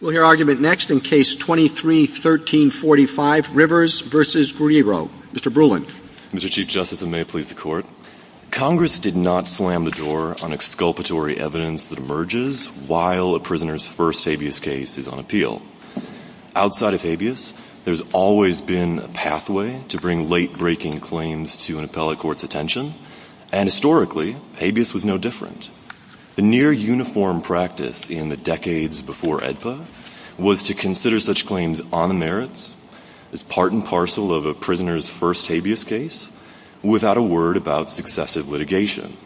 We'll hear argument next in Case 23-1345, Rivers v. Guerrero. Mr. Brulin. Mr. Chief Justice, and may it please the Court, Congress did not slam the door on exculpatory evidence that emerges while a prisoner's first habeas case is on appeal. Outside of habeas, there's always been a pathway to bring late-breaking claims to an appellate court's attention, and historically, habeas was no different. The near-uniform practice in the decades before AEDPA was to consider such claims on the merits, as part and parcel of a prisoner's first habeas case, without a word about successive litigation.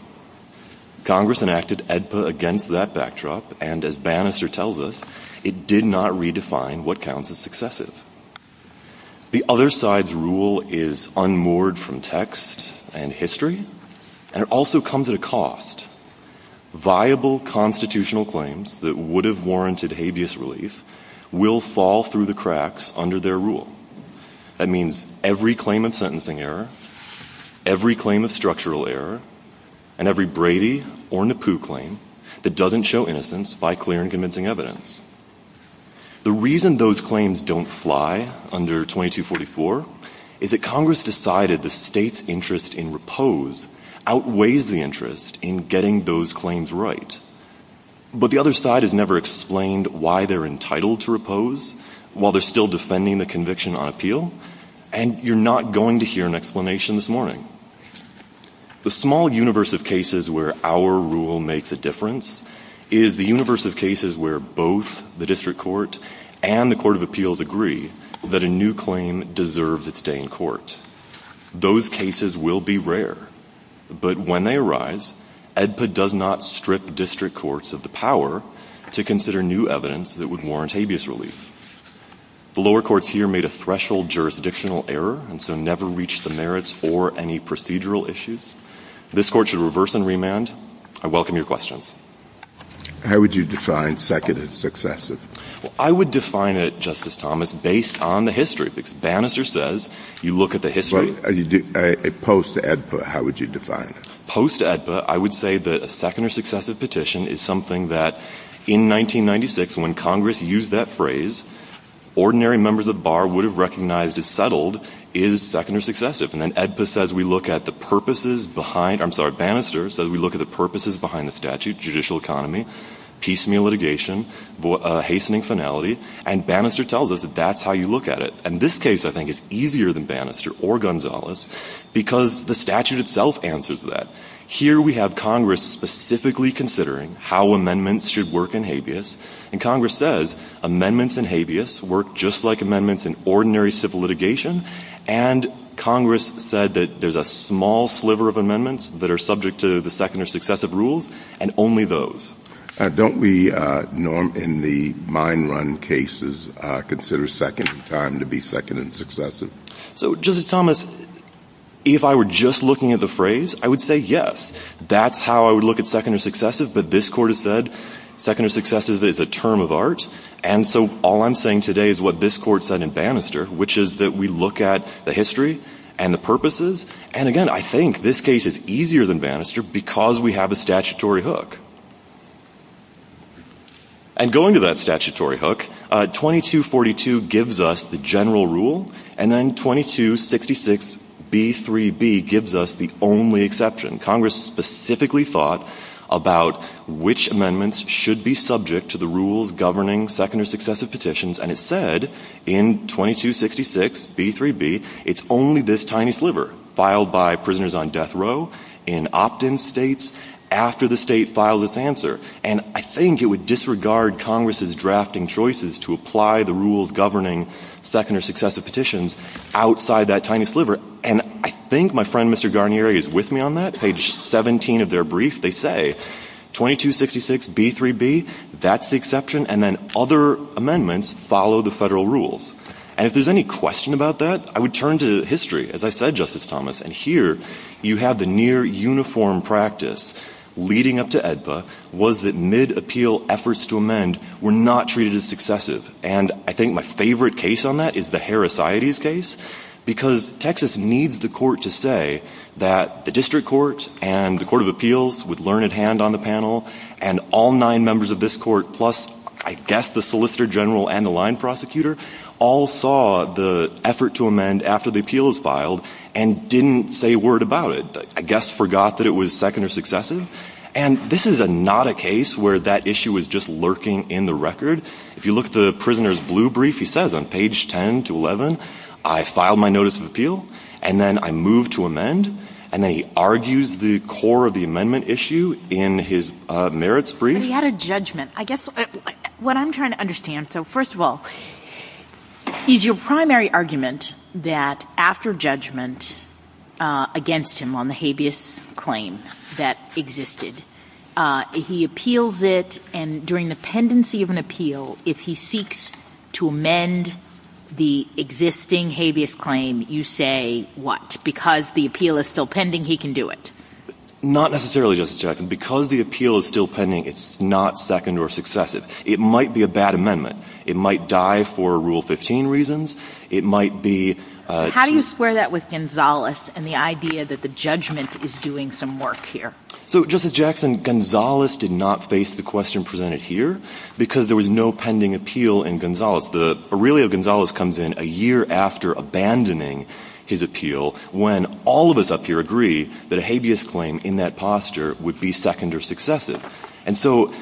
Congress enacted AEDPA against that backdrop, and as Bannister tells us, it did not redefine what counts as successive. The other side's rule is unmoored from text and history, and it also comes at a cost. Viable constitutional claims that would have warranted habeas relief will fall through the cracks under their rule. That means every claim of sentencing error, every claim of structural error, and every Brady or Napu claim that doesn't show innocence by clear and convincing evidence. The reason those claims don't fly under 2244 is that Congress decided the state's interest in repose outweighs the interest in getting those claims right. But the other side has never explained why they're entitled to repose while they're still defending the conviction on appeal, and you're not going to hear an explanation this morning. The small universe of cases where our rule makes a difference is the universe of cases where both the district court and the court of appeals agree that a new claim deserves its day in court. Those cases will be rare, but when they arise, AEDPA does not strip district courts of the power to consider new evidence that would warrant habeas relief. The lower courts here made a threshold jurisdictional error and so never reached the merits or any procedural issues. This court should reverse and remand. I welcome your questions. How would you define second and successive? Well, I would define it, Justice Thomas, based on the history, because Bannister says you look at the history. But a post-AEDPA, how would you define it? Post-AEDPA, I would say that a second or successive petition is something that in 1996, when Congress used that phrase, ordinary members of the bar would have recognized as settled is second or successive. And then AEDPA says we look at the purposes behind, I'm sorry, Bannister says we look at the purposes behind the statute, judicial economy, piecemeal litigation, hastening finality, and Bannister tells us that that's how you look at it. And this case, I think, is easier than Bannister or Gonzalez because the statute itself answers that. Here we have Congress specifically considering how amendments should work in habeas, and Congress says amendments in habeas work just like amendments in ordinary civil litigation. And Congress said that there's a small sliver of amendments that are subject to the second or successive rules, and only those. Don't we, Norm, in the mine run cases, consider second time to be second and successive? So, Justice Thomas, if I were just looking at the phrase, I would say yes. That's how I would look at second or successive. But this Court has said second or successive is a term of art. And so all I'm saying today is what this Court said in Bannister, which is that we look at the history and the purposes. And, again, I think this case is easier than Bannister because we have a statutory hook. And going to that statutory hook, 2242 gives us the general rule, and then 2266B3B gives us the only exception. Congress specifically thought about which amendments should be subject to the rules governing second or successive petitions, and it said in 2266B3B it's only this tiny sliver, filed by prisoners on death row, in opt-in states, after the state files its answer. And I think it would disregard Congress's drafting choices to apply the rules governing second or successive petitions outside that tiny sliver. And I think my friend, Mr. Garnieri, is with me on that. Page 17 of their brief, they say 2266B3B, that's the exception, and then other amendments follow the Federal rules. And if there's any question about that, I would turn to history. As I said, Justice Thomas, and here you have the near-uniform practice leading up to AEDPA, was that mid-appeal efforts to amend were not treated as successive. And I think my favorite case on that is the Harris-Iates case, because Texas needs the Court to say that the district court and the court of appeals, with Learned Hand on the panel, and all nine members of this court, plus I guess the solicitor general and the line prosecutor, all saw the effort to amend after the appeal was filed and didn't say a word about it, I guess forgot that it was second or successive. And this is not a case where that issue is just lurking in the record. If you look at the prisoner's blue brief, he says on page 10 to 11, I filed my notice of appeal, and then I moved to amend, and then he argues the core of the amendment issue in his merits brief. And he had a judgment. I guess what I'm trying to understand, so first of all, is your primary argument that after judgment against him on the habeas claim that existed, he appeals it, and during the pendency of an appeal, if he seeks to amend the existing habeas claim, you say what? Because the appeal is still pending, he can do it? Not necessarily, Justice Jackson. Because the appeal is still pending, it's not second or successive. It might be a bad amendment. It might die for Rule 15 reasons. It might be too — How do you square that with Gonzales and the idea that the judgment is doing some work here? So, Justice Jackson, Gonzales did not face the question presented here because there was no pending appeal in Gonzales. The — Aurelio Gonzales comes in a year after abandoning his appeal when all of us up here agree that a habeas claim in that posture would be second or successive. And so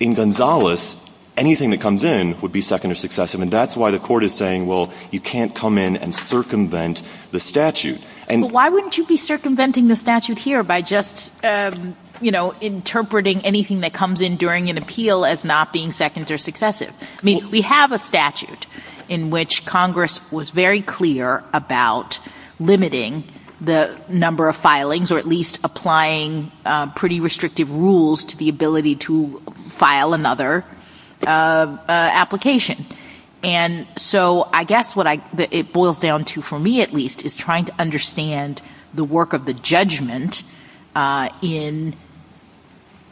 in Gonzales, anything that comes in would be second or successive. And that's why the Court is saying, well, you can't come in and circumvent the statute. And — But why wouldn't you be circumventing the statute here by just, you know, interpreting anything that comes in during an appeal as not being second or successive? I mean, we have a statute in which Congress was very clear about limiting the number of filings, or at least applying pretty restrictive rules to the ability to file another application. And so I guess what I — it boils down to, for me at least, is trying to understand the work of the judgment in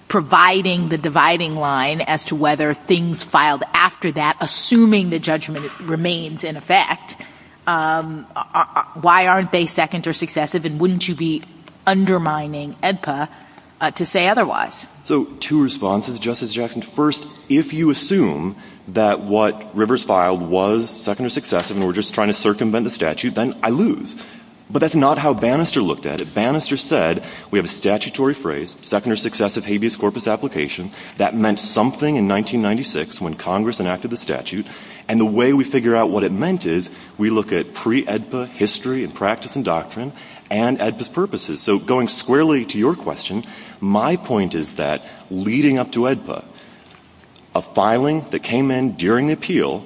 providing the dividing line as to whether things filed after that, assuming the judgment remains in effect, why aren't they second or successive, and wouldn't you be undermining AEDPA to say otherwise? So two responses, Justice Jackson. First, if you assume that what Rivers filed was second or successive and we're just trying to circumvent the statute, then I lose. But that's not how Bannister looked at it. Bannister said, we have a statutory phrase, second or successive habeas corpus application. That meant something in 1996 when Congress enacted the statute. And the way we figure out what it meant is we look at pre-AEDPA history and practice and doctrine and AEDPA's purposes. So going squarely to your question, my point is that leading up to AEDPA, a filing that came in during the appeal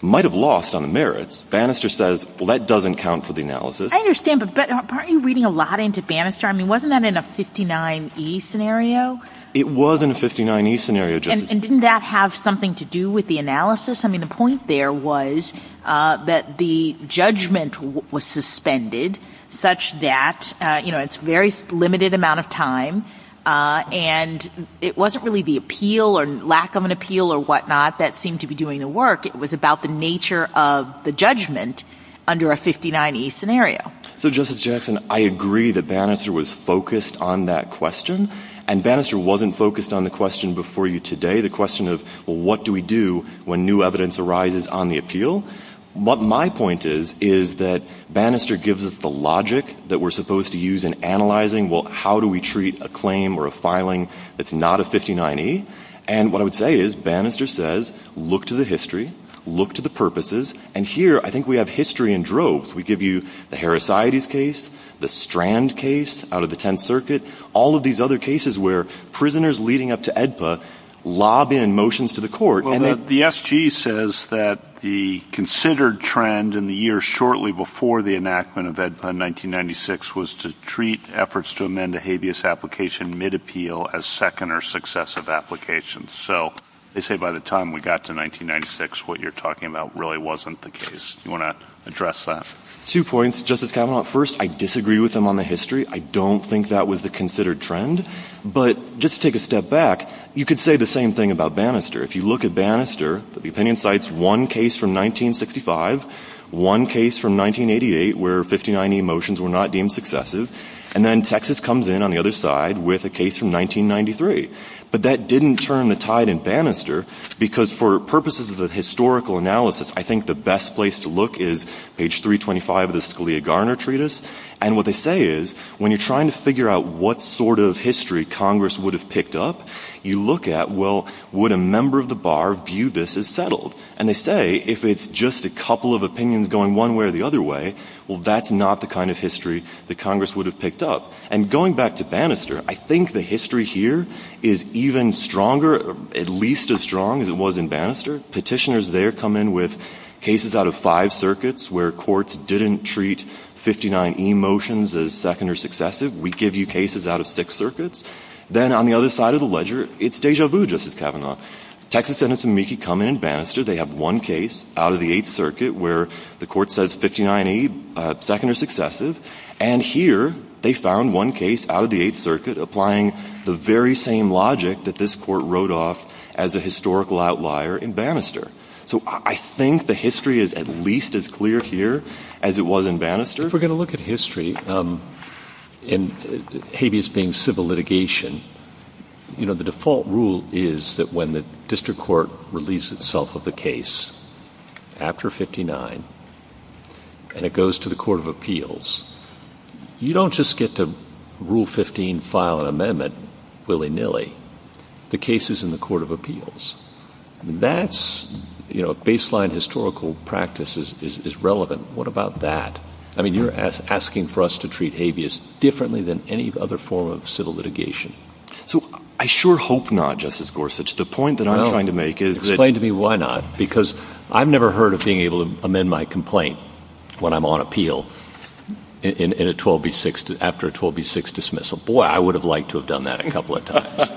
might have lost on the merits. Bannister says, well, that doesn't count for the analysis. I understand. But aren't you reading a lot into Bannister? I mean, wasn't that in a 59E scenario? It was in a 59E scenario, Justice Kagan. And didn't that have something to do with the analysis? I mean, the point there was that the judgment was suspended such that, you know, it's a very limited amount of time and it wasn't really the appeal or lack of an appeal or whatnot that seemed to be doing the work. It was about the nature of the judgment under a 59E scenario. So, Justice Jackson, I agree that Bannister was focused on that question. And Bannister wasn't focused on the question before you today, the question of, well, what do we do when new evidence arises on the appeal? My point is, is that Bannister gives us the logic that we're supposed to use in analyzing, well, how do we treat a claim or a filing that's not a 59E? And what I would say is, Bannister says, look to the history, look to the purposes. And here I think we have history in droves. We give you the Heracides case, the Strand case out of the Tenth Circuit, all of these other cases where prisoners leading up to AEDPA lob in motions to the court. The SG says that the considered trend in the years shortly before the enactment of AEDPA in 1996 was to treat efforts to amend a habeas application mid-appeal as second or successive applications. So they say by the time we got to 1996, what you're talking about really wasn't the case. Do you want to address that? Two points, Justice Kavanaugh. First, I disagree with them on the history. I don't think that was the considered trend. But just to take a step back, you could say the same thing about Bannister. If you look at Bannister, the opinion cites one case from 1965, one case from 1988 where 59E motions were not deemed successive, and then Texas comes in on the other side with a case from 1993. But that didn't turn the tide in Bannister because for purposes of the historical analysis, I think the best place to look is page 325 of the Scalia-Garner Treatise. And what they say is when you're trying to figure out what sort of history Congress would have picked up, you look at, well, would a member of the bar view this as settled? And they say if it's just a couple of opinions going one way or the other way, well, that's not the kind of history that Congress would have picked up. And going back to Bannister, I think the history here is even stronger, at least as strong as it was in Bannister. Petitioners there come in with cases out of five circuits where courts didn't treat 59E motions as second or successive. We give you cases out of six circuits. Then on the other side of the ledger, it's déjà vu, Justice Kavanaugh. Texas Sentence of Meeke come in in Bannister. They have one case out of the Eighth Circuit where the court says 59E, second or successive. And here they found one case out of the Eighth Circuit applying the very same logic that this Court wrote off as a historical outlier in Bannister. So I think the history is at least as clear here as it was in Bannister. If we're going to look at history, and habeas being civil litigation, you know, the default rule is that when the district court relieves itself of the case after 59 and it goes to the Court of Appeals, you don't just get to Rule 15, file an amendment willy-nilly. The case is in the Court of Appeals. That's, you know, baseline historical practice is relevant. What about that? I mean, you're asking for us to treat habeas differently than any other form of civil litigation. So I sure hope not, Justice Gorsuch. The point that I'm trying to make is that — No, explain to me why not, because I've never heard of being able to amend my complaint when I'm on appeal in a 12B6, after a 12B6 dismissal. Boy, I would have liked to have done that a couple of times.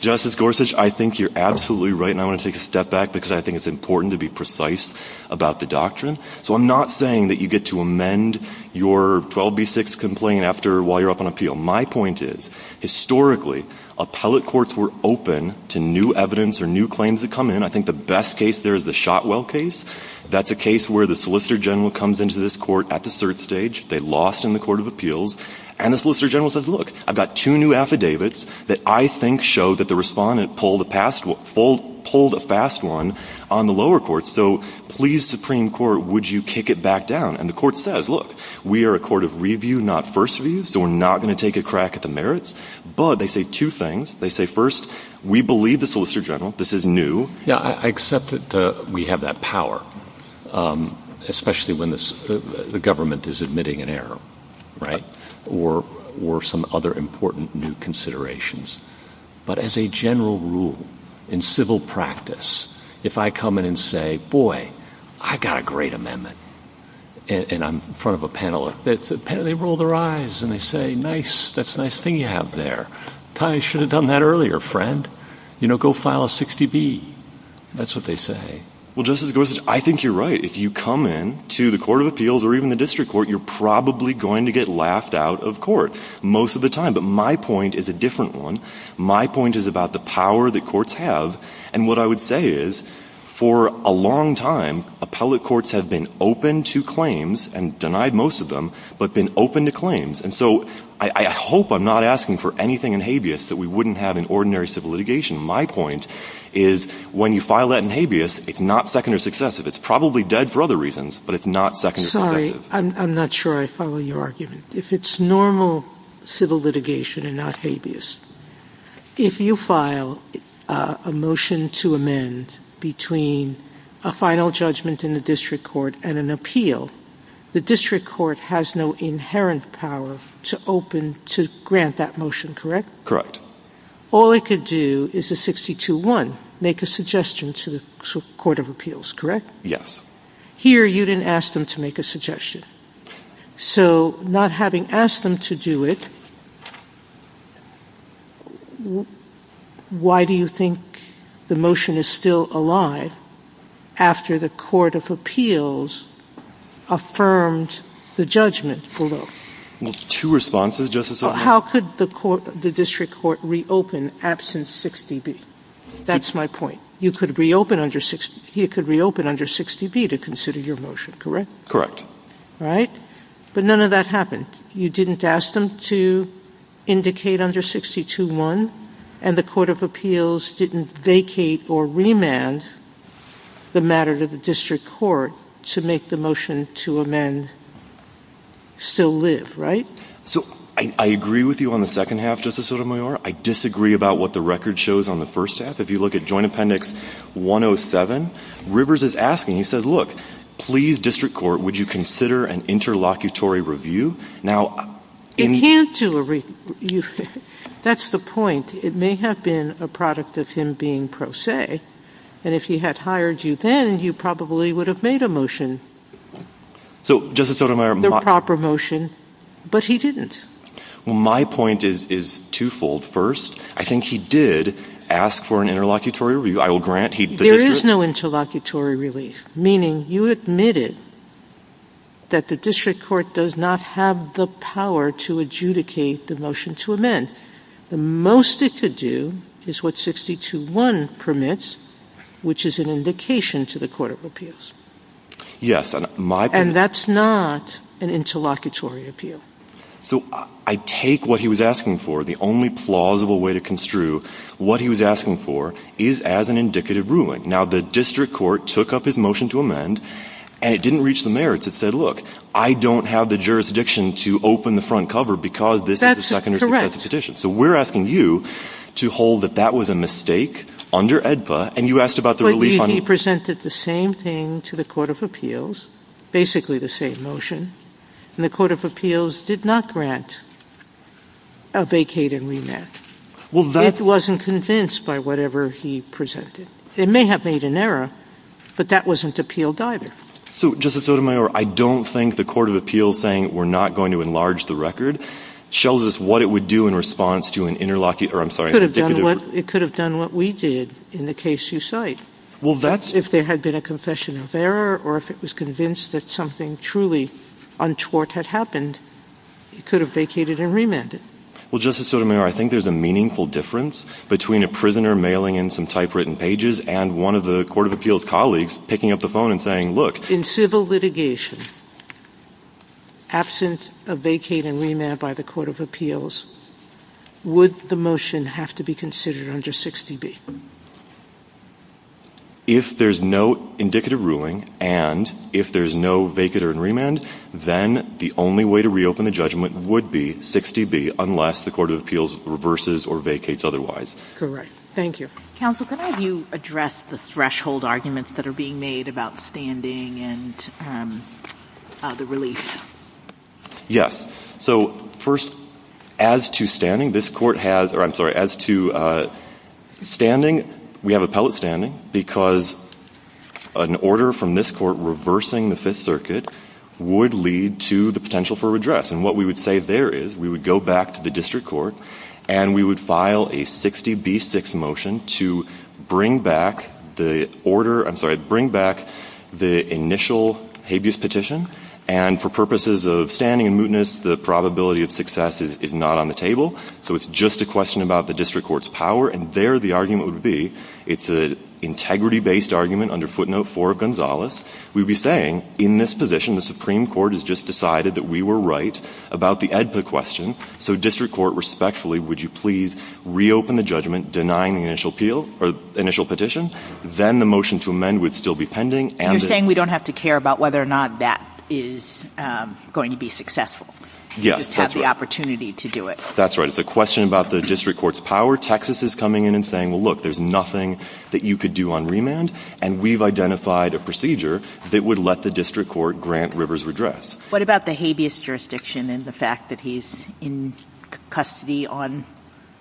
Justice Gorsuch, I think you're absolutely right, and I want to take a step back because I think it's important to be precise about the doctrine. So I'm not saying that you get to amend your 12B6 complaint while you're up on My point is, historically, appellate courts were open to new evidence or new claims that come in. I think the best case there is the Shotwell case. That's a case where the Solicitor General comes into this court at the cert stage, they lost in the Court of Appeals, and the Solicitor General says, look, I've got two new affidavits that I think show that the respondent pulled a fast one on the lower court. So please, Supreme Court, would you kick it back down? And the court says, look, we are a court of review, not first review, so we're not going to take a crack at the merits. But they say two things. They say, first, we believe the Solicitor General. This is new. Yeah, I accept that we have that power, especially when the government is submitting an error, right, or some other important new considerations. But as a general rule, in civil practice, if I come in and say, boy, I got a great amendment, and I'm in front of a panel, they roll their eyes and they say, nice, that's a nice thing you have there. I should have done that earlier, friend. You know, go file a 60B. That's what they say. Well, Justice Gorsuch, I think you're right. If you come in to the court of appeals or even the district court, you're probably going to get laughed out of court most of the time. But my point is a different one. My point is about the power that courts have. And what I would say is, for a long time, appellate courts have been open to claims, and denied most of them, but been open to claims. And so I hope I'm not asking for anything in habeas that we wouldn't have in ordinary civil litigation. My point is, when you file that in habeas, it's not second or successive. It's probably dead for other reasons, but it's not second or successive. Sorry, I'm not sure I follow your argument. If it's normal civil litigation and not habeas, if you file a motion to amend between a final judgment in the district court and an appeal, the district court has no inherent power to open to grant that motion, correct? Correct. All it could do is a 62-1, make a suggestion to the court of appeals, correct? Yes. Here, you didn't ask them to make a suggestion. So not having asked them to do it, why do you think the motion is still alive after the court of appeals affirmed the judgment below? Well, two responses, Justice Sotomayor. How could the district court reopen absent 6dB? That's my point. You could reopen under 6dB to consider your motion, correct? Right? But none of that happened. You didn't ask them to indicate under 62-1, and the court of appeals didn't vacate or remand the matter to the district court to make the motion to amend still live, right? So I agree with you on the second half, Justice Sotomayor. I disagree about what the record shows on the first half. If you look at Joint Appendix 107, Rivers is asking, he says, look, please, district court, would you consider an interlocutory review? Now, in the ---- It can't do a review. That's the point. It may have been a product of him being pro se, and if he had hired you then, you probably would have made a motion. So, Justice Sotomayor, my ---- The proper motion. But he didn't. Well, my point is twofold. First, I think he did ask for an interlocutory review. I will grant he ---- There is no interlocutory relief, meaning you admitted that the district court does not have the power to adjudicate the motion to amend. The most it could do is what 62-1 permits, which is an indication to the court of appeals. Yes. And my ---- And that's not an interlocutory appeal. So I take what he was asking for, the only plausible way to construe what he was asking for is as an indicative ruling. Now, the district court took up his motion to amend, and it didn't reach the merits. It said, look, I don't have the jurisdiction to open the front cover because this is a second or successive petition. So we're asking you to hold that that was a mistake under AEDPA, and you asked about the relief on ---- But he presented the same thing to the court of appeals, basically the same motion. And the court of appeals did not grant a vacating remand. Well, that's ---- It wasn't convinced by whatever he presented. It may have made an error, but that wasn't appealed either. So, Justice Sotomayor, I don't think the court of appeals saying we're not going to enlarge the record shows us what it would do in response to an interlocutory or, I'm sorry, indicative ---- It could have done what we did in the case you cite. Well, that's ---- If the motion on tort had happened, it could have vacated and remanded. Well, Justice Sotomayor, I think there's a meaningful difference between a prisoner mailing in some typewritten pages and one of the court of appeals colleagues picking up the phone and saying, look ---- In civil litigation, absent a vacate and remand by the court of appeals, would the motion have to be considered under 60B? If there's no indicative ruling and if there's no vacate or remand, then the only way to reopen the judgment would be 60B unless the court of appeals reverses or vacates otherwise. Thank you. Counsel, can I have you address the threshold arguments that are being made about standing and the relief? Yes. So, first, as to standing, this Court has ---- or, I'm sorry, as to standing, we have appellate standing because an order from this Court reversing the Fifth Circuit would lead to the potential for redress. And what we would say there is we would go back to the district court and we would file a 60B-6 motion to bring back the order ---- I'm sorry, bring back the initial habeas petition. And for purposes of standing and mootness, the probability of success is not on the So it's just a question about the district court's power. And there the argument would be it's an integrity-based argument under footnote 4 of Gonzales. We would be saying, in this position, the Supreme Court has just decided that we were right about the AEDPA question. So district court, respectfully, would you please reopen the judgment denying the initial appeal or initial petition? Then the motion to amend would still be pending. And you're saying we don't have to care about whether or not that is going to be successful. Yes, that's right. You just have the opportunity to do it. That's right. It's a question about the district court's power. Texas is coming in and saying, well, look, there's nothing that you could do on And we've identified a procedure that would let the district court grant Rivers redress. What about the habeas jurisdiction and the fact that he's in custody on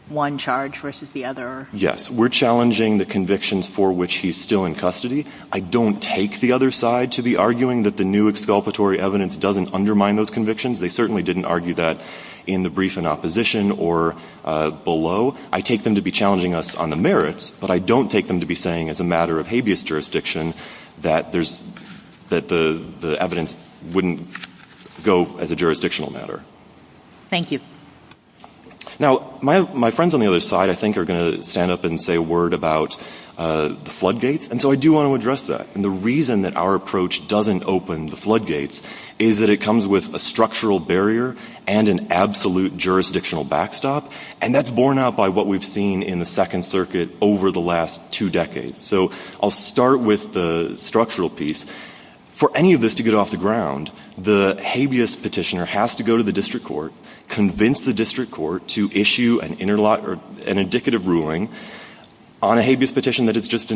one charge versus the other? Yes. We're challenging the convictions for which he's still in custody. I don't take the other side to be arguing that the new exculpatory evidence doesn't undermine those convictions. They certainly didn't argue that in the brief in opposition or below. I take them to be challenging us on the merits, but I don't take them to be saying as a matter of habeas jurisdiction that there's – that the evidence wouldn't go as a jurisdictional matter. Thank you. Now, my friends on the other side I think are going to stand up and say a word about the floodgates. And so I do want to address that. And the reason that our approach doesn't open the floodgates is that it comes with a structural barrier and an absolute jurisdictional backstop. And that's borne out by what we've seen in the Second Circuit over the last two decades. So I'll start with the structural piece. For any of this to get off the ground, the habeas petitioner has to go to the district court, convince the district court to issue an indicative ruling on a case,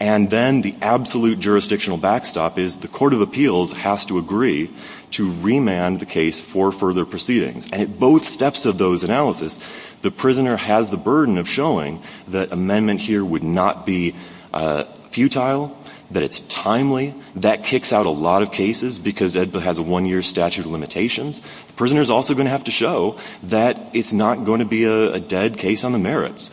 and then the absolute jurisdictional backstop is the court of appeals has to agree to remand the case for further proceedings. And at both steps of those analysis, the prisoner has the burden of showing that amendment here would not be futile, that it's timely. That kicks out a lot of cases because it has a one-year statute of limitations. The prisoner is also going to have to show that it's not going to be a dead case on the merits.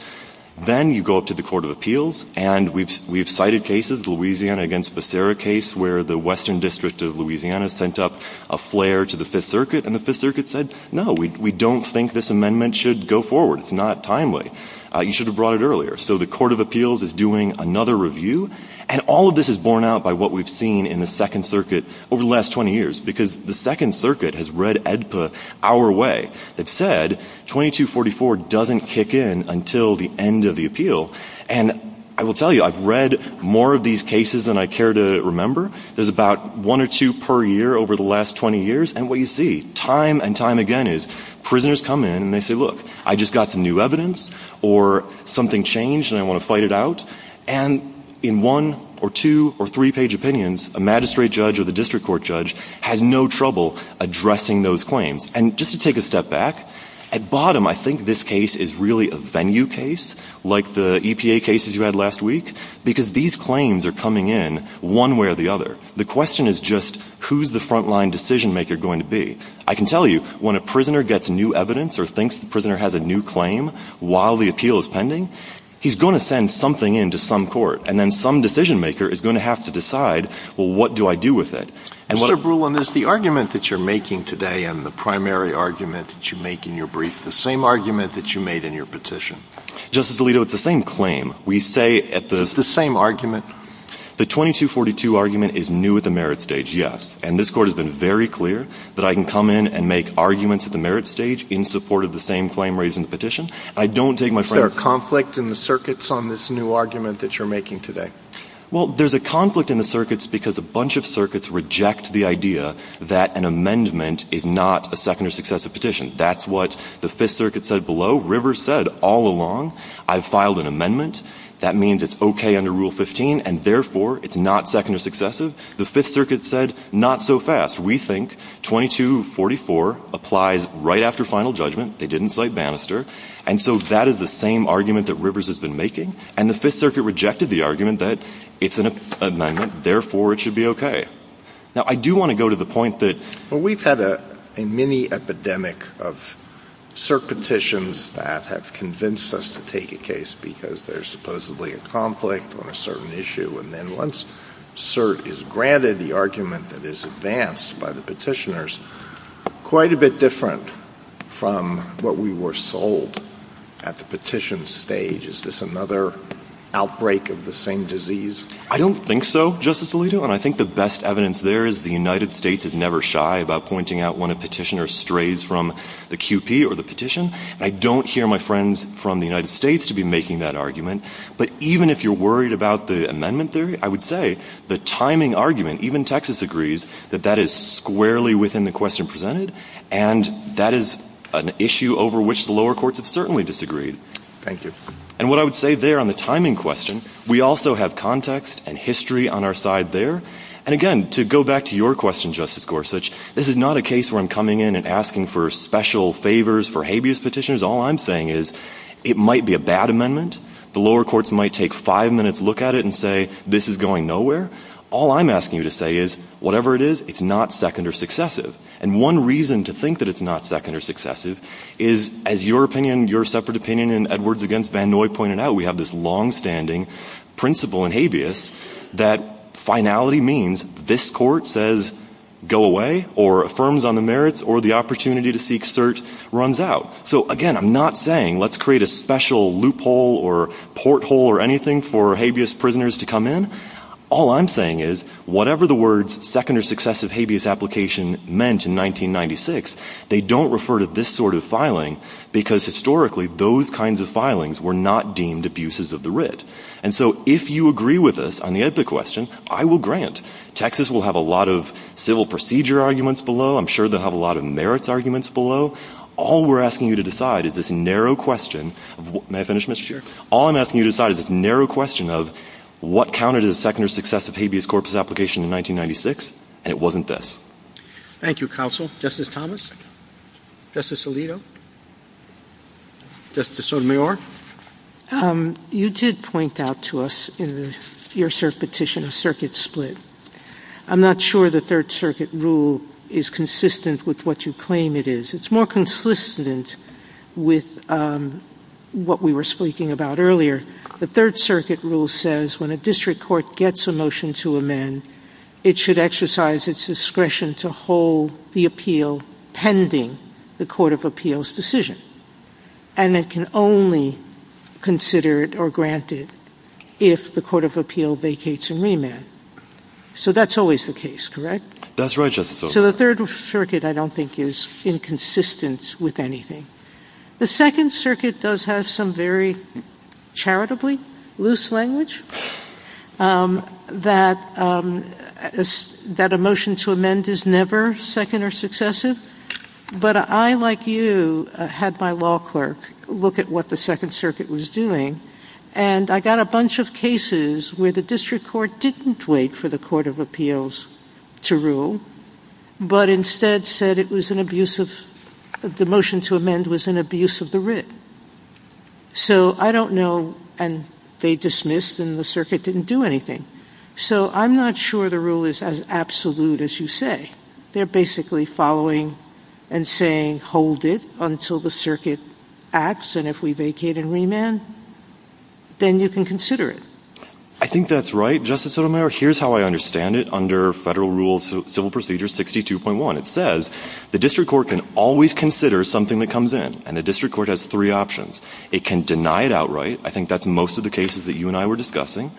Then you go up to the court of appeals. And we've cited cases, the Louisiana against Becerra case, where the western district of Louisiana sent up a flare to the Fifth Circuit, and the Fifth Circuit said, no, we don't think this amendment should go forward. It's not timely. You should have brought it earlier. So the court of appeals is doing another review. And all of this is borne out by what we've seen in the Second Circuit over the last 20 years, because the Second Circuit has read AEDPA our way. They've said 2244 doesn't kick in until the end of the appeal. And I will tell you, I've read more of these cases than I care to remember. There's about one or two per year over the last 20 years. And what you see time and time again is prisoners come in and they say, look, I just got some new evidence or something changed and I want to fight it out. And in one or two or three-page opinions, a magistrate judge or the district court judge has no trouble addressing those claims. And just to take a step back, at bottom, I think this case is really a venue case like the EPA cases you had last week, because these claims are coming in one way or the other. The question is just who's the front-line decision-maker going to be? I can tell you, when a prisoner gets new evidence or thinks the prisoner has a new claim while the appeal is pending, he's going to send something in to some court. And then some decision-maker is going to have to decide, well, what do I do with it? Mr. Brulin, is the argument that you're making today and the primary argument that you make in your brief the same argument that you made in your petition? Justice Alito, it's the same claim. We say at the — Is it the same argument? The 2242 argument is new at the merit stage, yes. And this Court has been very clear that I can come in and make arguments at the merit stage in support of the same claim raised in the petition. I don't take my friends — Is there a conflict in the circuits on this new argument that you're making today? Well, there's a conflict in the circuits because a bunch of circuits reject the idea that an amendment is not a second or successive petition. That's what the Fifth Circuit said below. Rivers said all along, I've filed an amendment. That means it's okay under Rule 15, and therefore it's not second or successive. The Fifth Circuit said not so fast. We think 2244 applies right after final judgment. They didn't cite Bannister. And so that is the same argument that Rivers has been making. And the Fifth Circuit rejected the argument that it's an amendment, therefore it should be okay. Now, I do want to go to the point that — Well, we've had a mini-epidemic of cert petitions that have convinced us to take a case because there's supposedly a conflict on a certain issue. And then once cert is granted, the argument that is advanced by the petitioners, quite a bit different from what we were sold at the petition stage. Is this another outbreak of the same disease? I don't think so, Justice Alito. And I think the best evidence there is the United States is never shy about pointing out when a petitioner strays from the QP or the petition. And I don't hear my friends from the United States to be making that argument. But even if you're worried about the amendment theory, I would say the timing argument, even Texas agrees that that is squarely within the question presented, and that is an issue over which the lower courts have certainly disagreed. Thank you. And what I would say there on the timing question, we also have context and history on our side there. And again, to go back to your question, Justice Gorsuch, this is not a case where I'm coming in and asking for special favors for habeas petitioners. All I'm saying is it might be a bad amendment. The lower courts might take five minutes, look at it, and say this is going nowhere. All I'm asking you to say is whatever it is, it's not second or successive. And one reason to think that it's not second or successive is, as your opinion, your separate opinion in Edwards v. Vannoy pointed out, we have this longstanding principle in habeas that finality means this court says go away or affirms on the merits or the opportunity to seek cert runs out. So, again, I'm not saying let's create a special loophole or porthole or anything for habeas prisoners to come in. All I'm saying is whatever the words second or successive habeas application meant in 1996, they don't refer to this sort of filing because historically those kinds of filings were not deemed abuses of the writ. And so if you agree with us on the edbit question, I will grant. Texas will have a lot of civil procedure arguments below. I'm sure they'll have a lot of merits arguments below. All we're asking you to decide is this narrow question. May I finish, Mr. Chair? All I'm asking you to decide is this narrow question of what counted as second or successive habeas corpus application in 1996, and it wasn't this. Thank you, Counsel. Justice Thomas? Justice Alito? Justice Sotomayor? You did point out to us in your petition a circuit split. I'm not sure the Third Circuit rule is consistent with what you claim it is. It's more consistent with what we were speaking about earlier. The Third Circuit rule says when a district court gets a motion to amend, it should exercise its discretion to hold the appeal pending the court of appeals decision. And it can only consider it or grant it if the court of appeal vacates and remands. So that's always the case, correct? That's right, Justice Sotomayor. So the Third Circuit, I don't think, is inconsistent with anything. The Second Circuit does have some very charitably loose language that a motion to amend is never second or successive. But I, like you, had my law clerk look at what the Second Circuit was doing, and I got a bunch of cases where the district court didn't wait for the court of appeals to rule, but instead said the motion to amend was an abuse of the writ. So I don't know, and they dismissed, and the circuit didn't do anything. So I'm not sure the rule is as absolute as you say. They're basically following and saying hold it until the circuit acts, and if we vacate and remand, then you can consider it. I think that's right, Justice Sotomayor. Here's how I understand it under Federal Rule Civil Procedure 62.1. It says the district court can always consider something that comes in, and the district court has three options. It can deny it outright. I think that's most of the cases that you and I were discussing.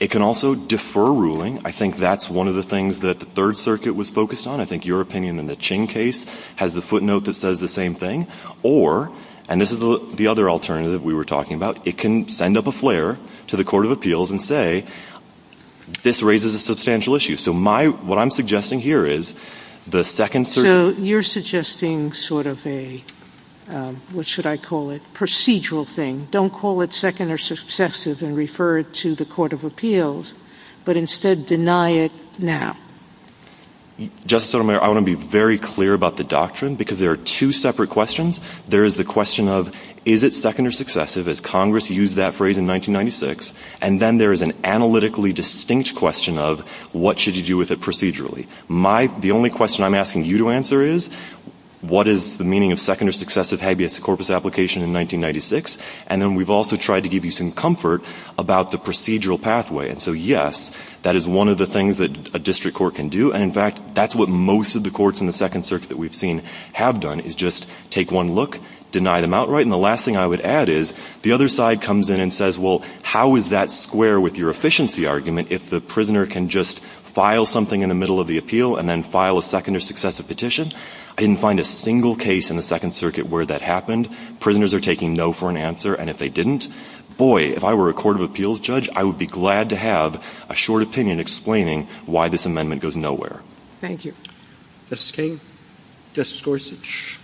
It can also defer ruling. I think that's one of the things that the Third Circuit was focused on. I think your opinion in the Ching case has the footnote that says the same thing. Or, and this is the other alternative we were talking about, it can send up a flare to the court of appeals and say this raises a substantial issue. So my, what I'm suggesting here is the Second Circuit. Sotomayor, you're suggesting sort of a, what should I call it, procedural thing. Don't call it second or successive and refer it to the court of appeals, but instead deny it now. Justice Sotomayor, I want to be very clear about the doctrine because there are two separate questions. There is the question of is it second or successive, as Congress used that phrase in 1996, and then there is an analytically distinct question of what should you do with it procedurally. My, the only question I'm asking you to answer is what is the meaning of second or successive habeas corpus application in 1996, and then we've also tried to give you some comfort about the procedural pathway. And so, yes, that is one of the things that a district court can do. And, in fact, that's what most of the courts in the Second Circuit that we've seen have done, is just take one look, deny them outright. And the last thing I would add is the other side comes in and says, well, how is that square with your efficiency argument if the prisoner can just file something in the middle of the appeal and then file a second or successive petition? I didn't find a single case in the Second Circuit where that happened. Prisoners are taking no for an answer, and if they didn't, boy, if I were a court of appeals judge, I would be glad to have a short opinion explaining why this amendment goes nowhere. Roberts. Thank you. Justice Kagan. Justice Gorsuch.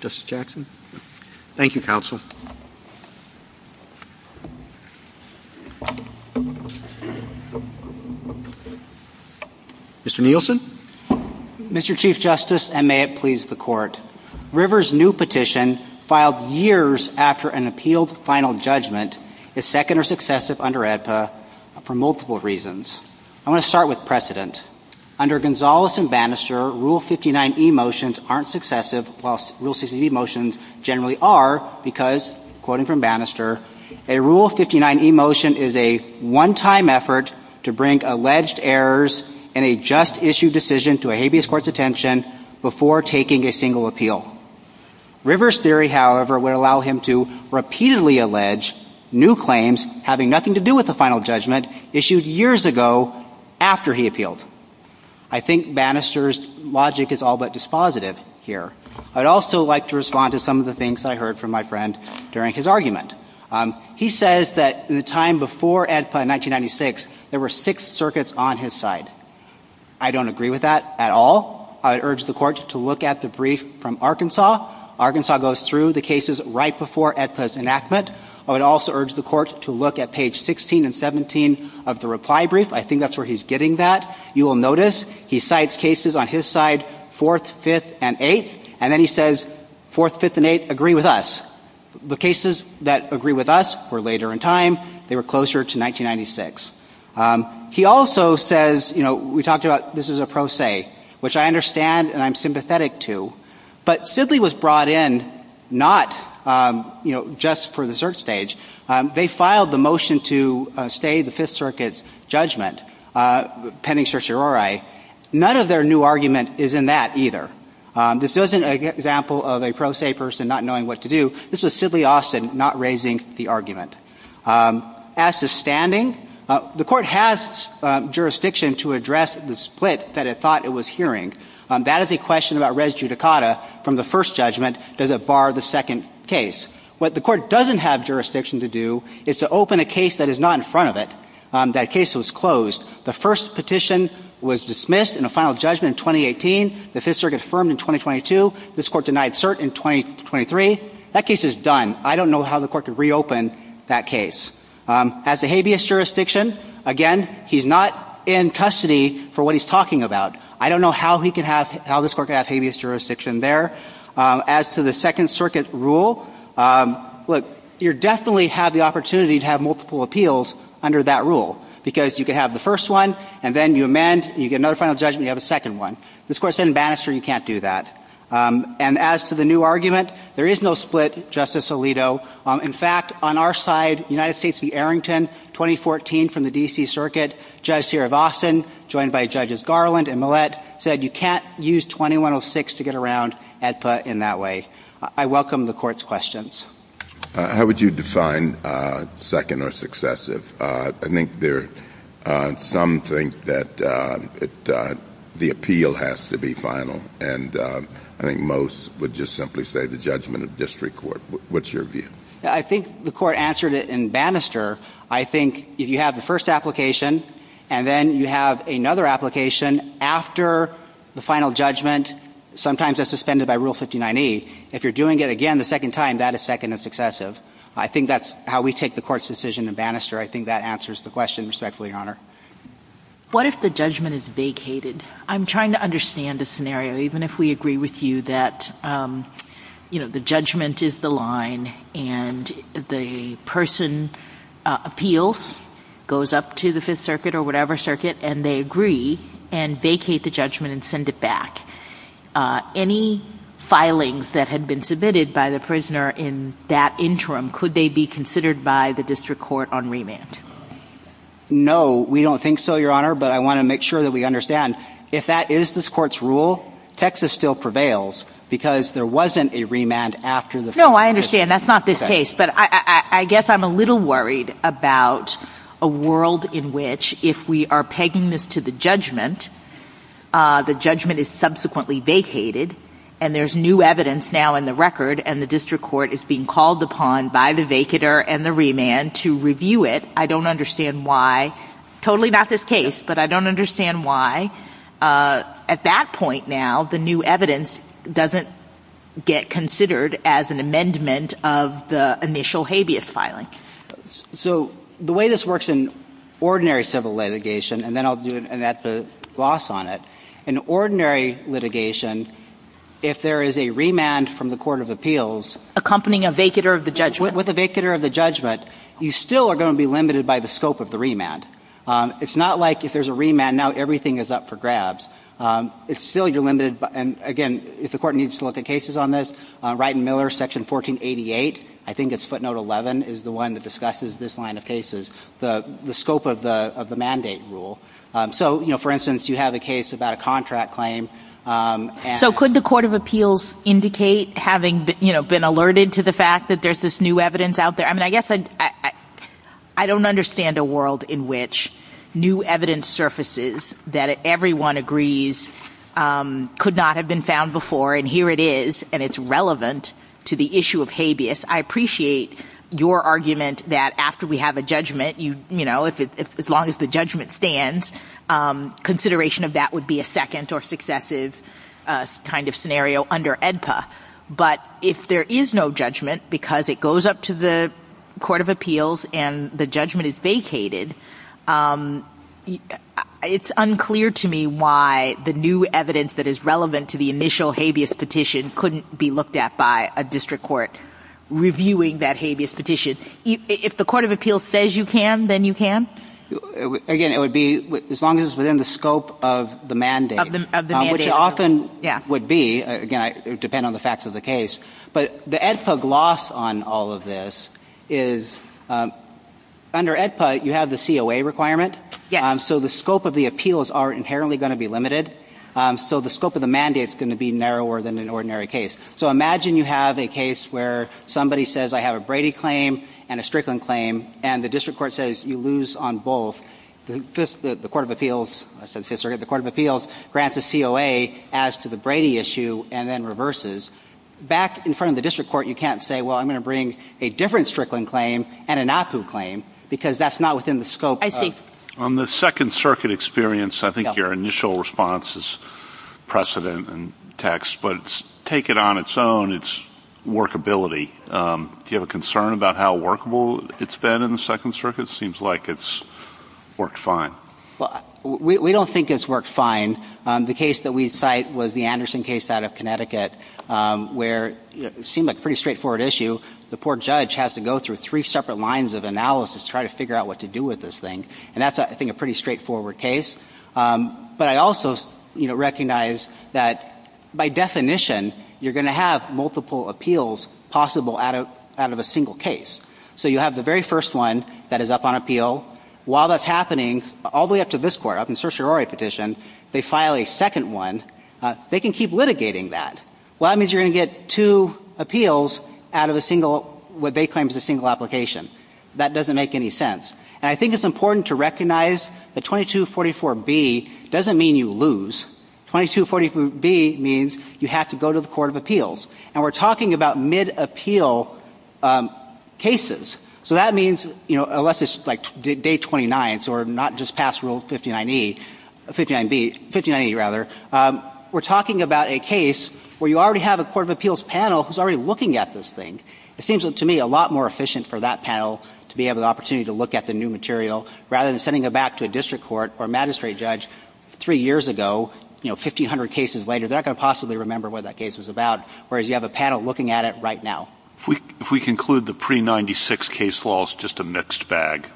Justice Jackson. Thank you, counsel. Mr. Nielsen. Mr. Chief Justice, and may it please the Court. River's new petition, filed years after an appealed final judgment, is second or successive under AEDPA for multiple reasons. I want to start with precedent. Under Gonzales and Bannister, Rule 59e motions aren't successive, while Rule 60b motions generally are because, quoting from Bannister, a Rule 59e motion is a one-time effort to bring alleged errors in a just issue decision to a habeas court's attention before taking a single appeal. River's theory, however, would allow him to repeatedly allege new claims having nothing to do with the final judgment issued years ago after he appealed. I think Bannister's logic is all but dispositive here. I would also like to respond to some of the things that I heard from my friend during his argument. He says that the time before AEDPA in 1996, there were six circuits on his side. I don't agree with that at all. I would urge the Court to look at the brief from Arkansas. Arkansas goes through the cases right before AEDPA's enactment. I would also urge the Court to look at page 16 and 17 of the reply brief. I think that's where he's getting that. You will notice he cites cases on his side, 4th, 5th, and 8th. And then he says, 4th, 5th, and 8th agree with us. The cases that agree with us were later in time. They were closer to 1996. He also says, you know, we talked about this was a pro se, which I understand and I'm sympathetic to. But Sidley was brought in not, you know, just for the cert stage. They filed the motion to stay the Fifth Circuit's judgment pending certiorari. None of their new argument is in that either. This isn't an example of a pro se person not knowing what to do. This was Sidley Austin not raising the argument. As to standing, the Court has jurisdiction to address the split that it thought it was hearing. That is a question about res judicata from the first judgment. Does it bar the second case? What the Court doesn't have jurisdiction to do is to open a case that is not in front of it. That case was closed. The first petition was dismissed in a final judgment in 2018. The Fifth Circuit affirmed in 2022. This Court denied cert in 2023. That case is done. I don't know how the Court could reopen that case. As to habeas jurisdiction, again, he's not in custody for what he's talking about. I don't know how he could have, how this Court could have habeas jurisdiction there. As to the Second Circuit rule, look, you definitely have the opportunity to have multiple appeals under that rule because you could have the first one and then you amend, you get another final judgment, you have a second one. This Court said in Bannister you can't do that. And as to the new argument, there is no split, Justice Alito. In fact, on our side, United States v. Arrington, 2014 from the D.C. Circuit, Judge Sirivasan, joined by Judges Garland and Millett, said you can't use 2106 to get around AEDPA in that way. I welcome the Court's questions. How would you define second or successive? I think there, some think that the appeal has to be final. And I think most would just simply say the judgment of district court. What's your view? I think the Court answered it in Bannister. I think if you have the first application and then you have another application after the final judgment, sometimes that's suspended by Rule 59E. If you're doing it again the second time, that is second and successive. I think that's how we take the Court's decision in Bannister. I think that answers the question respectfully, Your Honor. What if the judgment is vacated? I'm trying to understand the scenario, even if we agree with you that the judgment is the line and the person appeals, goes up to the Fifth Circuit or whatever circuit, and they agree and vacate the judgment and send it back. Any filings that had been submitted by the prisoner in that interim, could they be considered by the district court on remand? No, we don't think so, Your Honor. But I want to make sure that we understand, if that is this Court's rule, Texas still prevails because there wasn't a remand after the Fifth Circuit. No, I understand. That's not this case. But I guess I'm a little worried about a world in which if we are pegging this to the judgment, the judgment is subsequently vacated and there's new evidence now in the record and the district court is being called upon by the vacater and the remand to review it. I don't understand why, totally not this case, but I don't understand why at that point now the new evidence doesn't get considered as an amendment of the initial habeas filing. So the way this works in ordinary civil litigation, and then I'll do it and add the gloss on it, in ordinary litigation, if there is a remand from the Court of Appeals... Accompanying a vacater of the judgment. With a vacater of the judgment, you still are going to be limited by the scope of the remand. It's not like if there's a remand, now everything is up for grabs. It's still your limited, and again, if the Court needs to look at cases on this, Wright and Miller, Section 1488, I think it's footnote 11, is the one that discusses this line of cases, the scope of the mandate rule. So, you know, for instance, you have a case about a contract claim and... So could the Court of Appeals indicate, having, you know, been alerted to the fact that there's this new evidence out there? I mean, I guess I don't understand a world in which new evidence surfaces that everyone agrees could not have been found before, and here it is, and it's relevant to the issue of habeas. I appreciate your argument that after we have a judgment, you know, as long as the judgment stands, consideration of that would be a second or successive kind of scenario under AEDPA. But if there is no judgment because it goes up to the Court of Appeals and the judgment is vacated, it's unclear to me why the new evidence that is relevant to the initial habeas petition couldn't be looked at by a district court reviewing that habeas petition. If the Court of Appeals says you can, then you can? Again, it would be as long as it's within the scope of the mandate. Of the mandate. Which it often would be. Again, it would depend on the facts of the case. But the AEDPA gloss on all of this is under AEDPA, you have the COA requirement. Yes. So the scope of the appeals are inherently going to be limited. So the scope of the mandate is going to be narrower than an ordinary case. So imagine you have a case where somebody says I have a Brady claim and a Strickland claim and the district court says you lose on both. The Court of Appeals grants a COA as to the Brady issue and then reverses. Back in front of the district court, you can't say, well, I'm going to bring a different Strickland claim and an APU claim because that's not within the scope. I see. On the Second Circuit experience, I think your initial response is precedent and text. But take it on its own. It's workability. Do you have a concern about how workable it's been in the Second Circuit? It seems like it's worked fine. We don't think it's worked fine. The case that we cite was the Anderson case out of Connecticut where it seemed like a pretty straightforward issue. The poor judge has to go through three separate lines of analysis to try to figure out what to do with this thing. And that's, I think, a pretty straightforward case. But I also recognize that by definition, you're going to have multiple appeals possible out of a single case. So you have the very first one that is up on appeal. While that's happening, all the way up to this court, up in certiorari petition, they file a second one. They can keep litigating that. Well, that means you're going to get two appeals out of a single, what they claim is a single application. That doesn't make any sense. And I think it's important to recognize that 2244B doesn't mean you lose. 2244B means you have to go to the court of appeals. And we're talking about mid-appeal cases. So that means, you know, unless it's like day 29, so we're not just past rule 59E, 59B, 59E rather, we're talking about a case where you already have a court of appeals panel who's already looking at this thing. It seems to me a lot more efficient for that panel to be able to opportunity to look at the new material rather than sending it back to a district court or magistrate judge three years ago, you know, 1,500 cases later. They're not going to possibly remember what that case was about, whereas you have a panel looking at it right now. If we conclude the pre-'96 case law is just a mixed bag.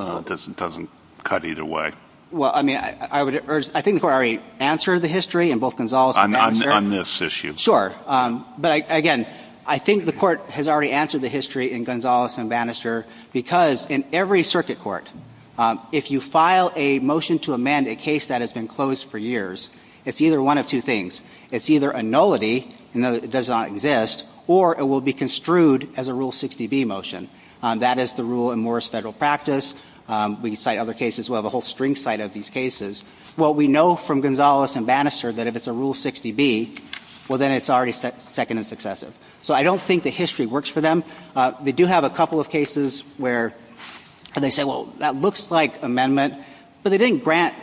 It doesn't cut either way. Well, I mean, I think the Court already answered the history in both Gonzales and Bannister. On this issue. Sure. But, again, I think the Court has already answered the history in Gonzales and Bannister because in every circuit court, if you file a motion to amend a case that has been closed for years, it's either one of two things. It's either a nullity, it does not exist, or it will be construed as a Rule 60B motion. That is the rule in Morris Federal practice. We cite other cases. We'll have a whole string cite of these cases. Well, we know from Gonzales and Bannister that if it's a Rule 60B, well, then it's already second and successive. So I don't think the history works for them. They do have a couple of cases where they say, well, that looks like amendment, but they didn't grant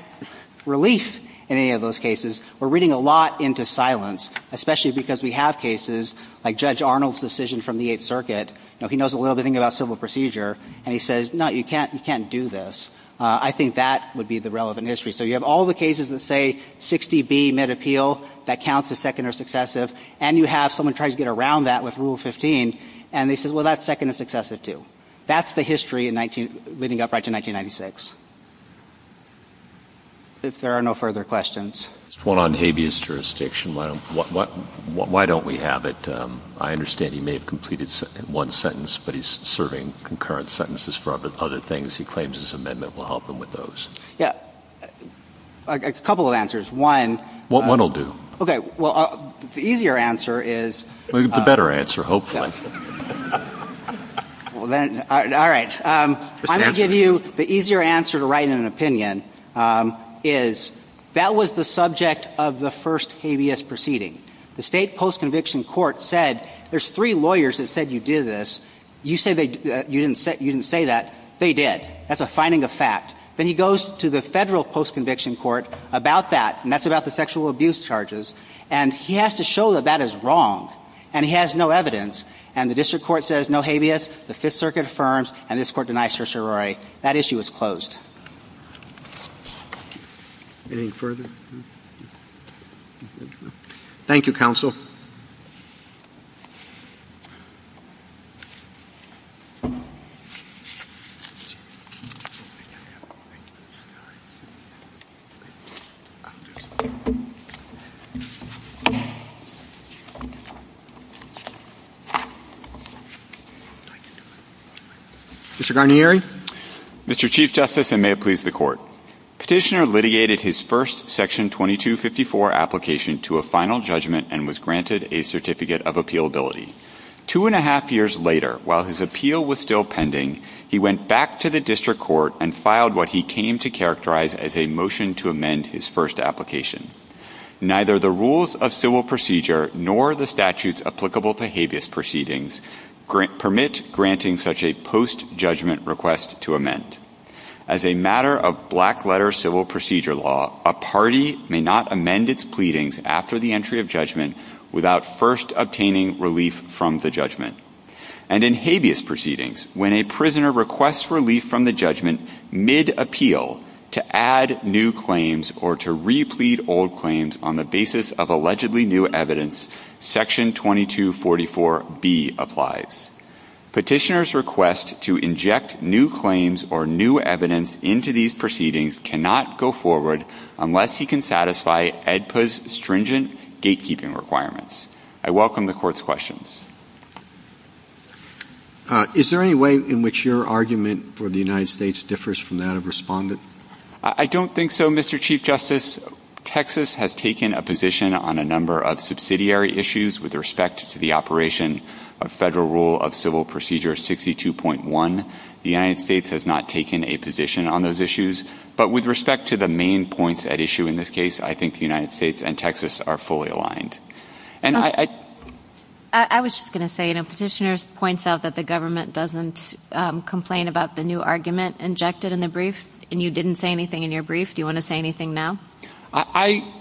relief in any of those cases. We're reading a lot into silence, especially because we have cases like Judge Arnold's decision from the Eighth Circuit. You know, he knows a little bit about civil procedure, and he says, no, you can't do this. I think that would be the relevant history. So you have all the cases that say 60B, mid-appeal, that counts as second or successive, and you have someone trying to get around that with Rule 15, and they say, well, that's second and successive, too. That's the history leading up right to 1996. If there are no further questions. Just one on habeas jurisdiction. Why don't we have it? I understand he may have completed one sentence, but he's serving concurrent sentences for other things. He claims his amendment will help him with those. Yeah. A couple of answers. One. One will do. Okay. Well, the easier answer is. The better answer, hopefully. All right. I'm going to give you the easier answer to write in an opinion, is that was the subject of the first habeas proceeding. The State Post-Conviction Court said there's three lawyers that said you did this. You say you didn't say that. They did. That's a finding of fact. Then he goes to the Federal Post-Conviction Court about that, and that's about the sexual abuse charges. And he has to show that that is wrong. And he has no evidence. And the district court says no habeas. The Fifth Circuit affirms. And this Court denies certiorari. That issue is closed. Anything further? Thank you, counsel. Mr. Garnieri. Mr. Chief Justice, and may it please the Court. Petitioner litigated his first Section 2254 application to a final judgment and was granted a certificate of appealability. Two and a half years later, while his appeal was still pending, he went back to the district court and filed what he came to characterize as a motion to amend his first application. Neither the rules of civil procedure nor the statutes applicable to habeas proceedings permit granting such a post-judgment request to amend. As a matter of black-letter civil procedure law, a party may not amend its pleadings after the entry of judgment without first obtaining relief from the judgment. And in habeas proceedings, when a prisoner requests relief from the judgment mid-appeal to add new claims or to replete old claims on the basis of allegedly new evidence, Section 2244B applies. Petitioner's request to inject new claims or new evidence into these proceedings cannot go forward unless he can satisfy AEDPA's stringent gatekeeping requirements. I welcome the Court's questions. Is there any way in which your argument for the United States differs from that of Respondent? I don't think so, Mr. Chief Justice. Texas has taken a position on a number of subsidiary issues with respect to the operation of Federal Rule of Civil Procedure 62.1. The United States has not taken a position on those issues, but with respect to the main points at issue in this case, I think the United States and Texas are fully aligned. I was just going to say, Petitioner points out that the government doesn't complain about the new argument injected in the brief, and you didn't say anything in your brief. Do you want to say anything now? I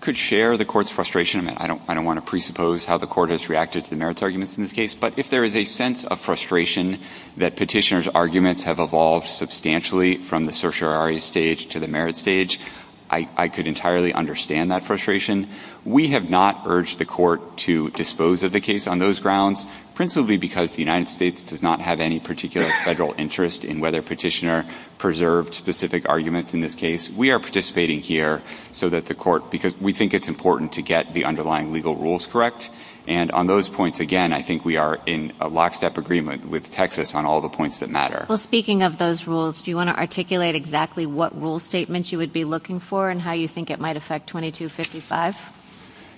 could share the Court's frustration. I mean, I don't want to presuppose how the Court has reacted to the merits arguments in this case, but if there is a sense of frustration that Petitioner's arguments have evolved substantially from the certiorari stage to the merits stage, I could entirely understand that frustration. We have not urged the Court to dispose of the case on those grounds, principally because the United States does not have any particular Federal interest in whether Petitioner preserved specific arguments in this case. We are participating here so that the Court – because we think it's important to get the underlying legal rules correct. And on those points, again, I think we are in lockstep agreement with Texas on all the points that matter. Well, speaking of those rules, do you want to articulate exactly what rule statements you would be looking for and how you think it might affect 2255?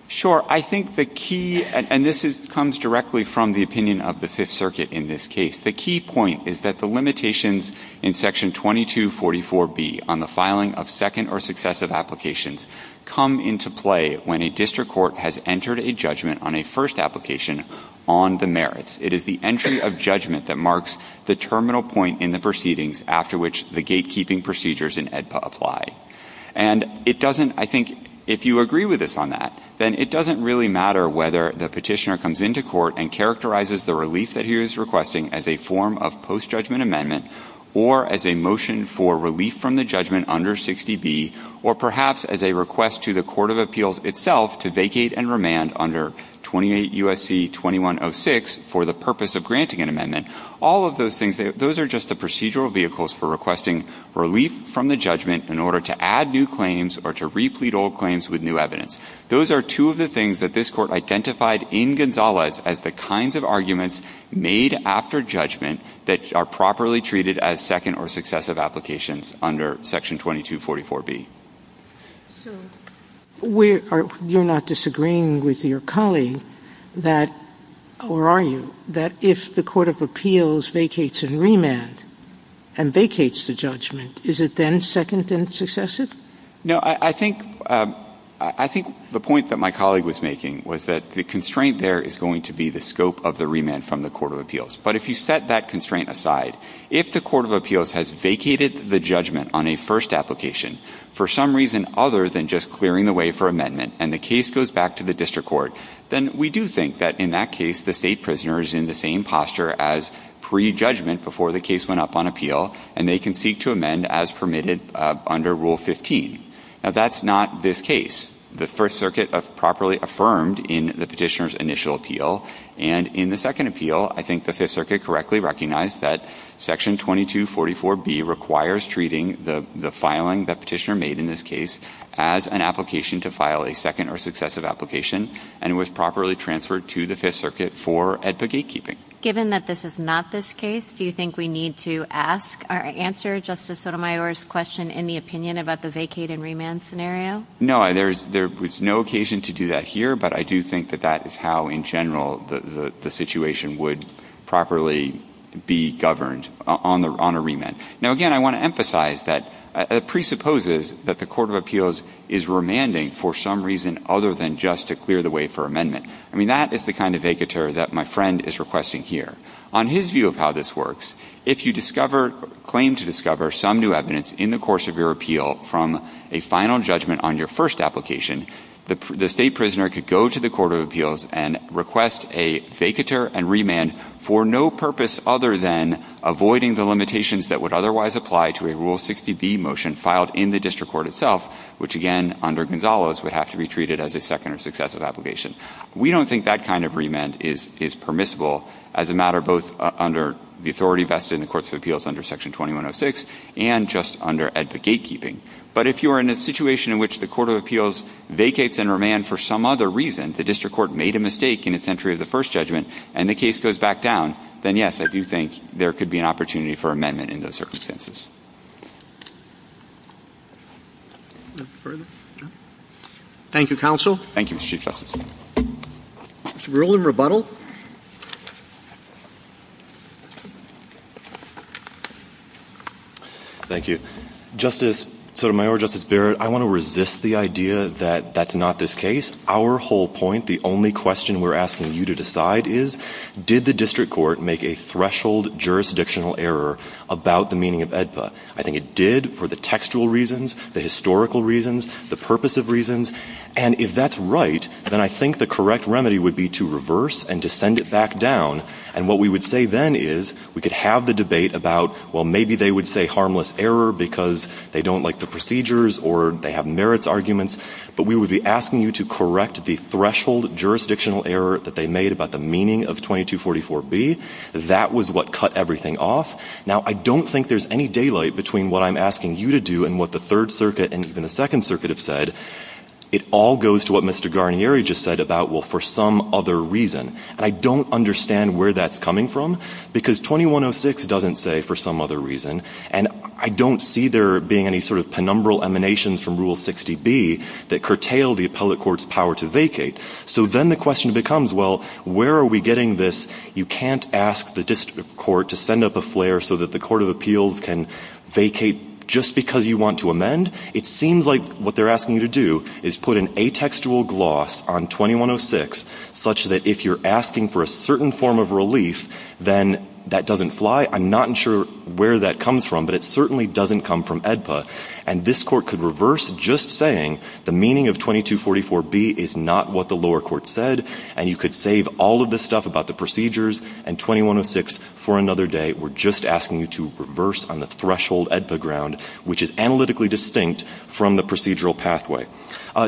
Sure. I think the key – and this comes directly from the opinion of the Fifth Circuit in this case. The key point is that the limitations in section 2244B on the filing of second or successive applications come into play when a district court has entered a judgment on a first application on the merits. It is the entry of judgment that marks the terminal point in the proceedings after which the gatekeeping procedures in AEDPA apply. And it doesn't – I think if you agree with us on that, then it doesn't really matter whether the Petitioner comes into court and characterizes the relief that he or she is requesting as a form of post-judgment amendment or as a motion for relief from the judgment under 60B or perhaps as a request to the court of appeals itself to vacate and remand under 28 U.S.C. 2106 for the purpose of granting an amendment. All of those things, those are just the procedural vehicles for requesting relief from the judgment in order to add new claims or to replete old claims with new evidence. Those are two of the things that this Court identified in Gonzales as the kinds of arguments made after judgment that are properly treated as second or successive applications under Section 2244B. Sotomayor, you're not disagreeing with your colleague that – or are you – that if the court of appeals vacates and remand and vacates the judgment, is it then second and successive? No. I think – I think the point that my colleague was making was that the constraint there is going to be the scope of the remand from the court of appeals. But if you set that constraint aside, if the court of appeals has vacated the judgment on a first application for some reason other than just clearing the way for amendment and the case goes back to the district court, then we do think that in that case the State prisoner is in the same posture as pre-judgment before the case went up on appeal and they can seek to amend as permitted under Rule 15. Now, that's not this case. It's the First Circuit properly affirmed in the Petitioner's initial appeal. And in the second appeal, I think the Fifth Circuit correctly recognized that Section 2244B requires treating the – the filing the Petitioner made in this case as an application to file a second or successive application and was properly transferred to the Fifth Circuit for ADPA gatekeeping. Given that this is not this case, do you think we need to ask or answer Justice Sotomayor's question in the opinion about the vacate and remand scenario? No. There's no occasion to do that here, but I do think that that is how in general the situation would properly be governed on a remand. Now, again, I want to emphasize that it presupposes that the court of appeals is remanding for some reason other than just to clear the way for amendment. I mean, that is the kind of vacateur that my friend is requesting here. On his view of how this works, if you discover – claim to discover some new evidence in the course of your appeal from a final judgment on your first application, the State prisoner could go to the court of appeals and request a vacateur and remand for no purpose other than avoiding the limitations that would otherwise apply to a Rule 60B motion filed in the district court itself, which, again, under Gonzalo's would have to be treated as a second or successive application. We don't think that kind of remand is – is permissible as a matter both under the Section 2106 and just under AEDPA gatekeeping. But if you are in a situation in which the court of appeals vacates and remand for some other reason, the district court made a mistake in its entry of the first judgment and the case goes back down, then, yes, I do think there could be an opportunity for amendment in those circumstances. Roberts. Thank you, counsel. Thank you, Mr. Chief Justice. Rule in rebuttal. Thank you. Justice – Sotomayor, Justice Barrett, I want to resist the idea that that's not this case. Our whole point, the only question we're asking you to decide is did the district court make a threshold jurisdictional error about the meaning of AEDPA? I think it did for the textual reasons, the historical reasons, the purpose of reasons. And if that's right, then I think the correct remedy would be to reverse and to send it back down. And what we would say then is we could have the debate about, well, maybe they would say harmless error because they don't like the procedures or they have merits arguments. But we would be asking you to correct the threshold jurisdictional error that they made about the meaning of 2244B. That was what cut everything off. Now, I don't think there's any daylight between what I'm asking you to do and what the Third Circuit and even the Second Circuit have said. It all goes to what Mr. Guarnieri just said about, well, for some other reason. And I don't understand where that's coming from, because 2106 doesn't say for some other reason. And I don't see there being any sort of penumbral emanations from Rule 60B that curtail the appellate court's power to vacate. So then the question becomes, well, where are we getting this? You can't ask the district court to send up a flare so that the court of appeals can vacate just because you want to amend. It seems like what they're asking you to do is put an atextual gloss on 2106 such that if you're asking for a certain form of relief, then that doesn't fly. I'm not sure where that comes from, but it certainly doesn't come from AEDPA. And this Court could reverse just saying the meaning of 2244B is not what the lower court said, and you could save all of the stuff about the procedures and 2106 for another day. We're just asking you to reverse on the threshold AEDPA ground, which is analytically distinct from the procedural pathway.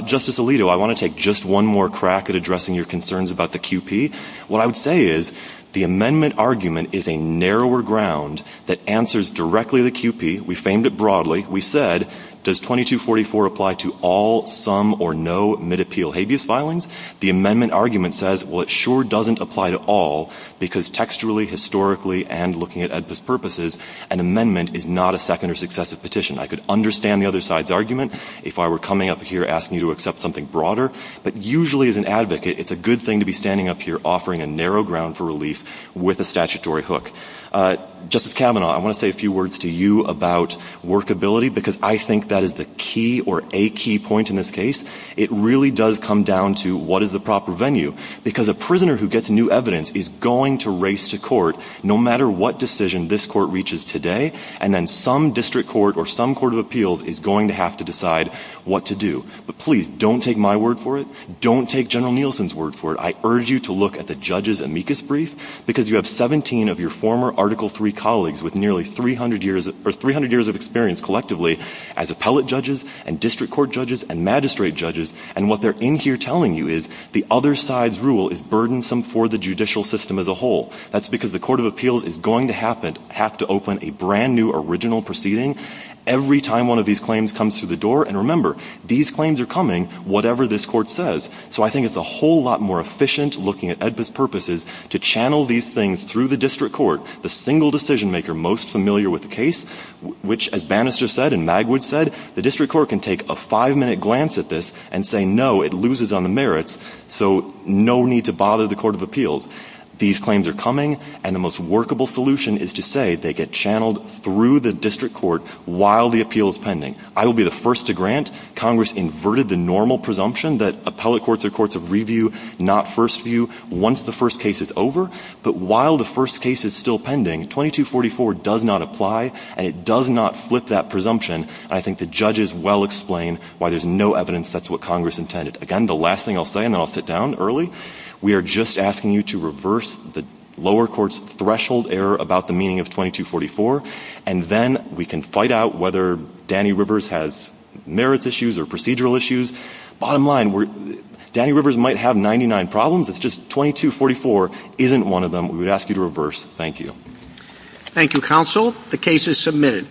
Justice Alito, I want to take just one more crack at addressing your concerns about the QP. What I would say is the amendment argument is a narrower ground that answers directly to the QP. We famed it broadly. We said, does 2244 apply to all, some, or no mid-appeal habeas filings? The amendment argument says, well, it sure doesn't apply to all, because textually, historically, and looking at AEDPA's purposes, an amendment is not a second or successive petition. I could understand the other side's argument if I were coming up here asking you to accept something broader, but usually as an advocate, it's a good thing to be standing up here offering a narrow ground for relief with a statutory hook. Justice Kavanaugh, I want to say a few words to you about workability, because I think that is the key or a key point in this case. It really does come down to what is the proper venue, because a prisoner who gets new evidence is going to race to court no matter what decision this court reaches today, and then some district court or some court of appeals is going to have to decide what to do. But please, don't take my word for it. Don't take General Nielsen's word for it. I urge you to look at the judges' amicus brief, because you have 17 of your former Article III colleagues with nearly 300 years of experience collectively as appellate judges and district court judges and magistrate judges, and what they're in here telling you is the other side's rule is burdensome for the judicial system as a whole. That's because the court of appeals is going to have to open a brand-new original proceeding every time one of these claims comes through the door, and remember, these claims are coming whatever this court says. So I think it's a whole lot more efficient looking at AEDPA's purposes to channel these things through the district court, the single decision-maker most familiar with the case, which, as Bannister said and Magwood said, the district court can take a five-minute glance at this and say, no, it loses on the merits, so no need to bother the court of appeals. These claims are coming, and the most workable solution is to say they get channeled through the district court while the appeal is pending. I will be the first to grant Congress inverted the normal presumption that appellate courts are courts of review, not first view, once the first case is over. But while the first case is still pending, 2244 does not apply, and it does not flip that presumption. I think the judges well explain why there's no evidence that's what Congress intended. Again, the last thing I'll say, and then I'll sit down early, we are just asking you to reverse the lower court's threshold error about the meaning of 2244, and then we can fight out whether Danny Rivers has merits issues or procedural issues. Bottom line, Danny Rivers might have 99 problems. It's just 2244 isn't one of them. We would ask you to reverse. Thank you. Thank you, counsel. The case is submitted.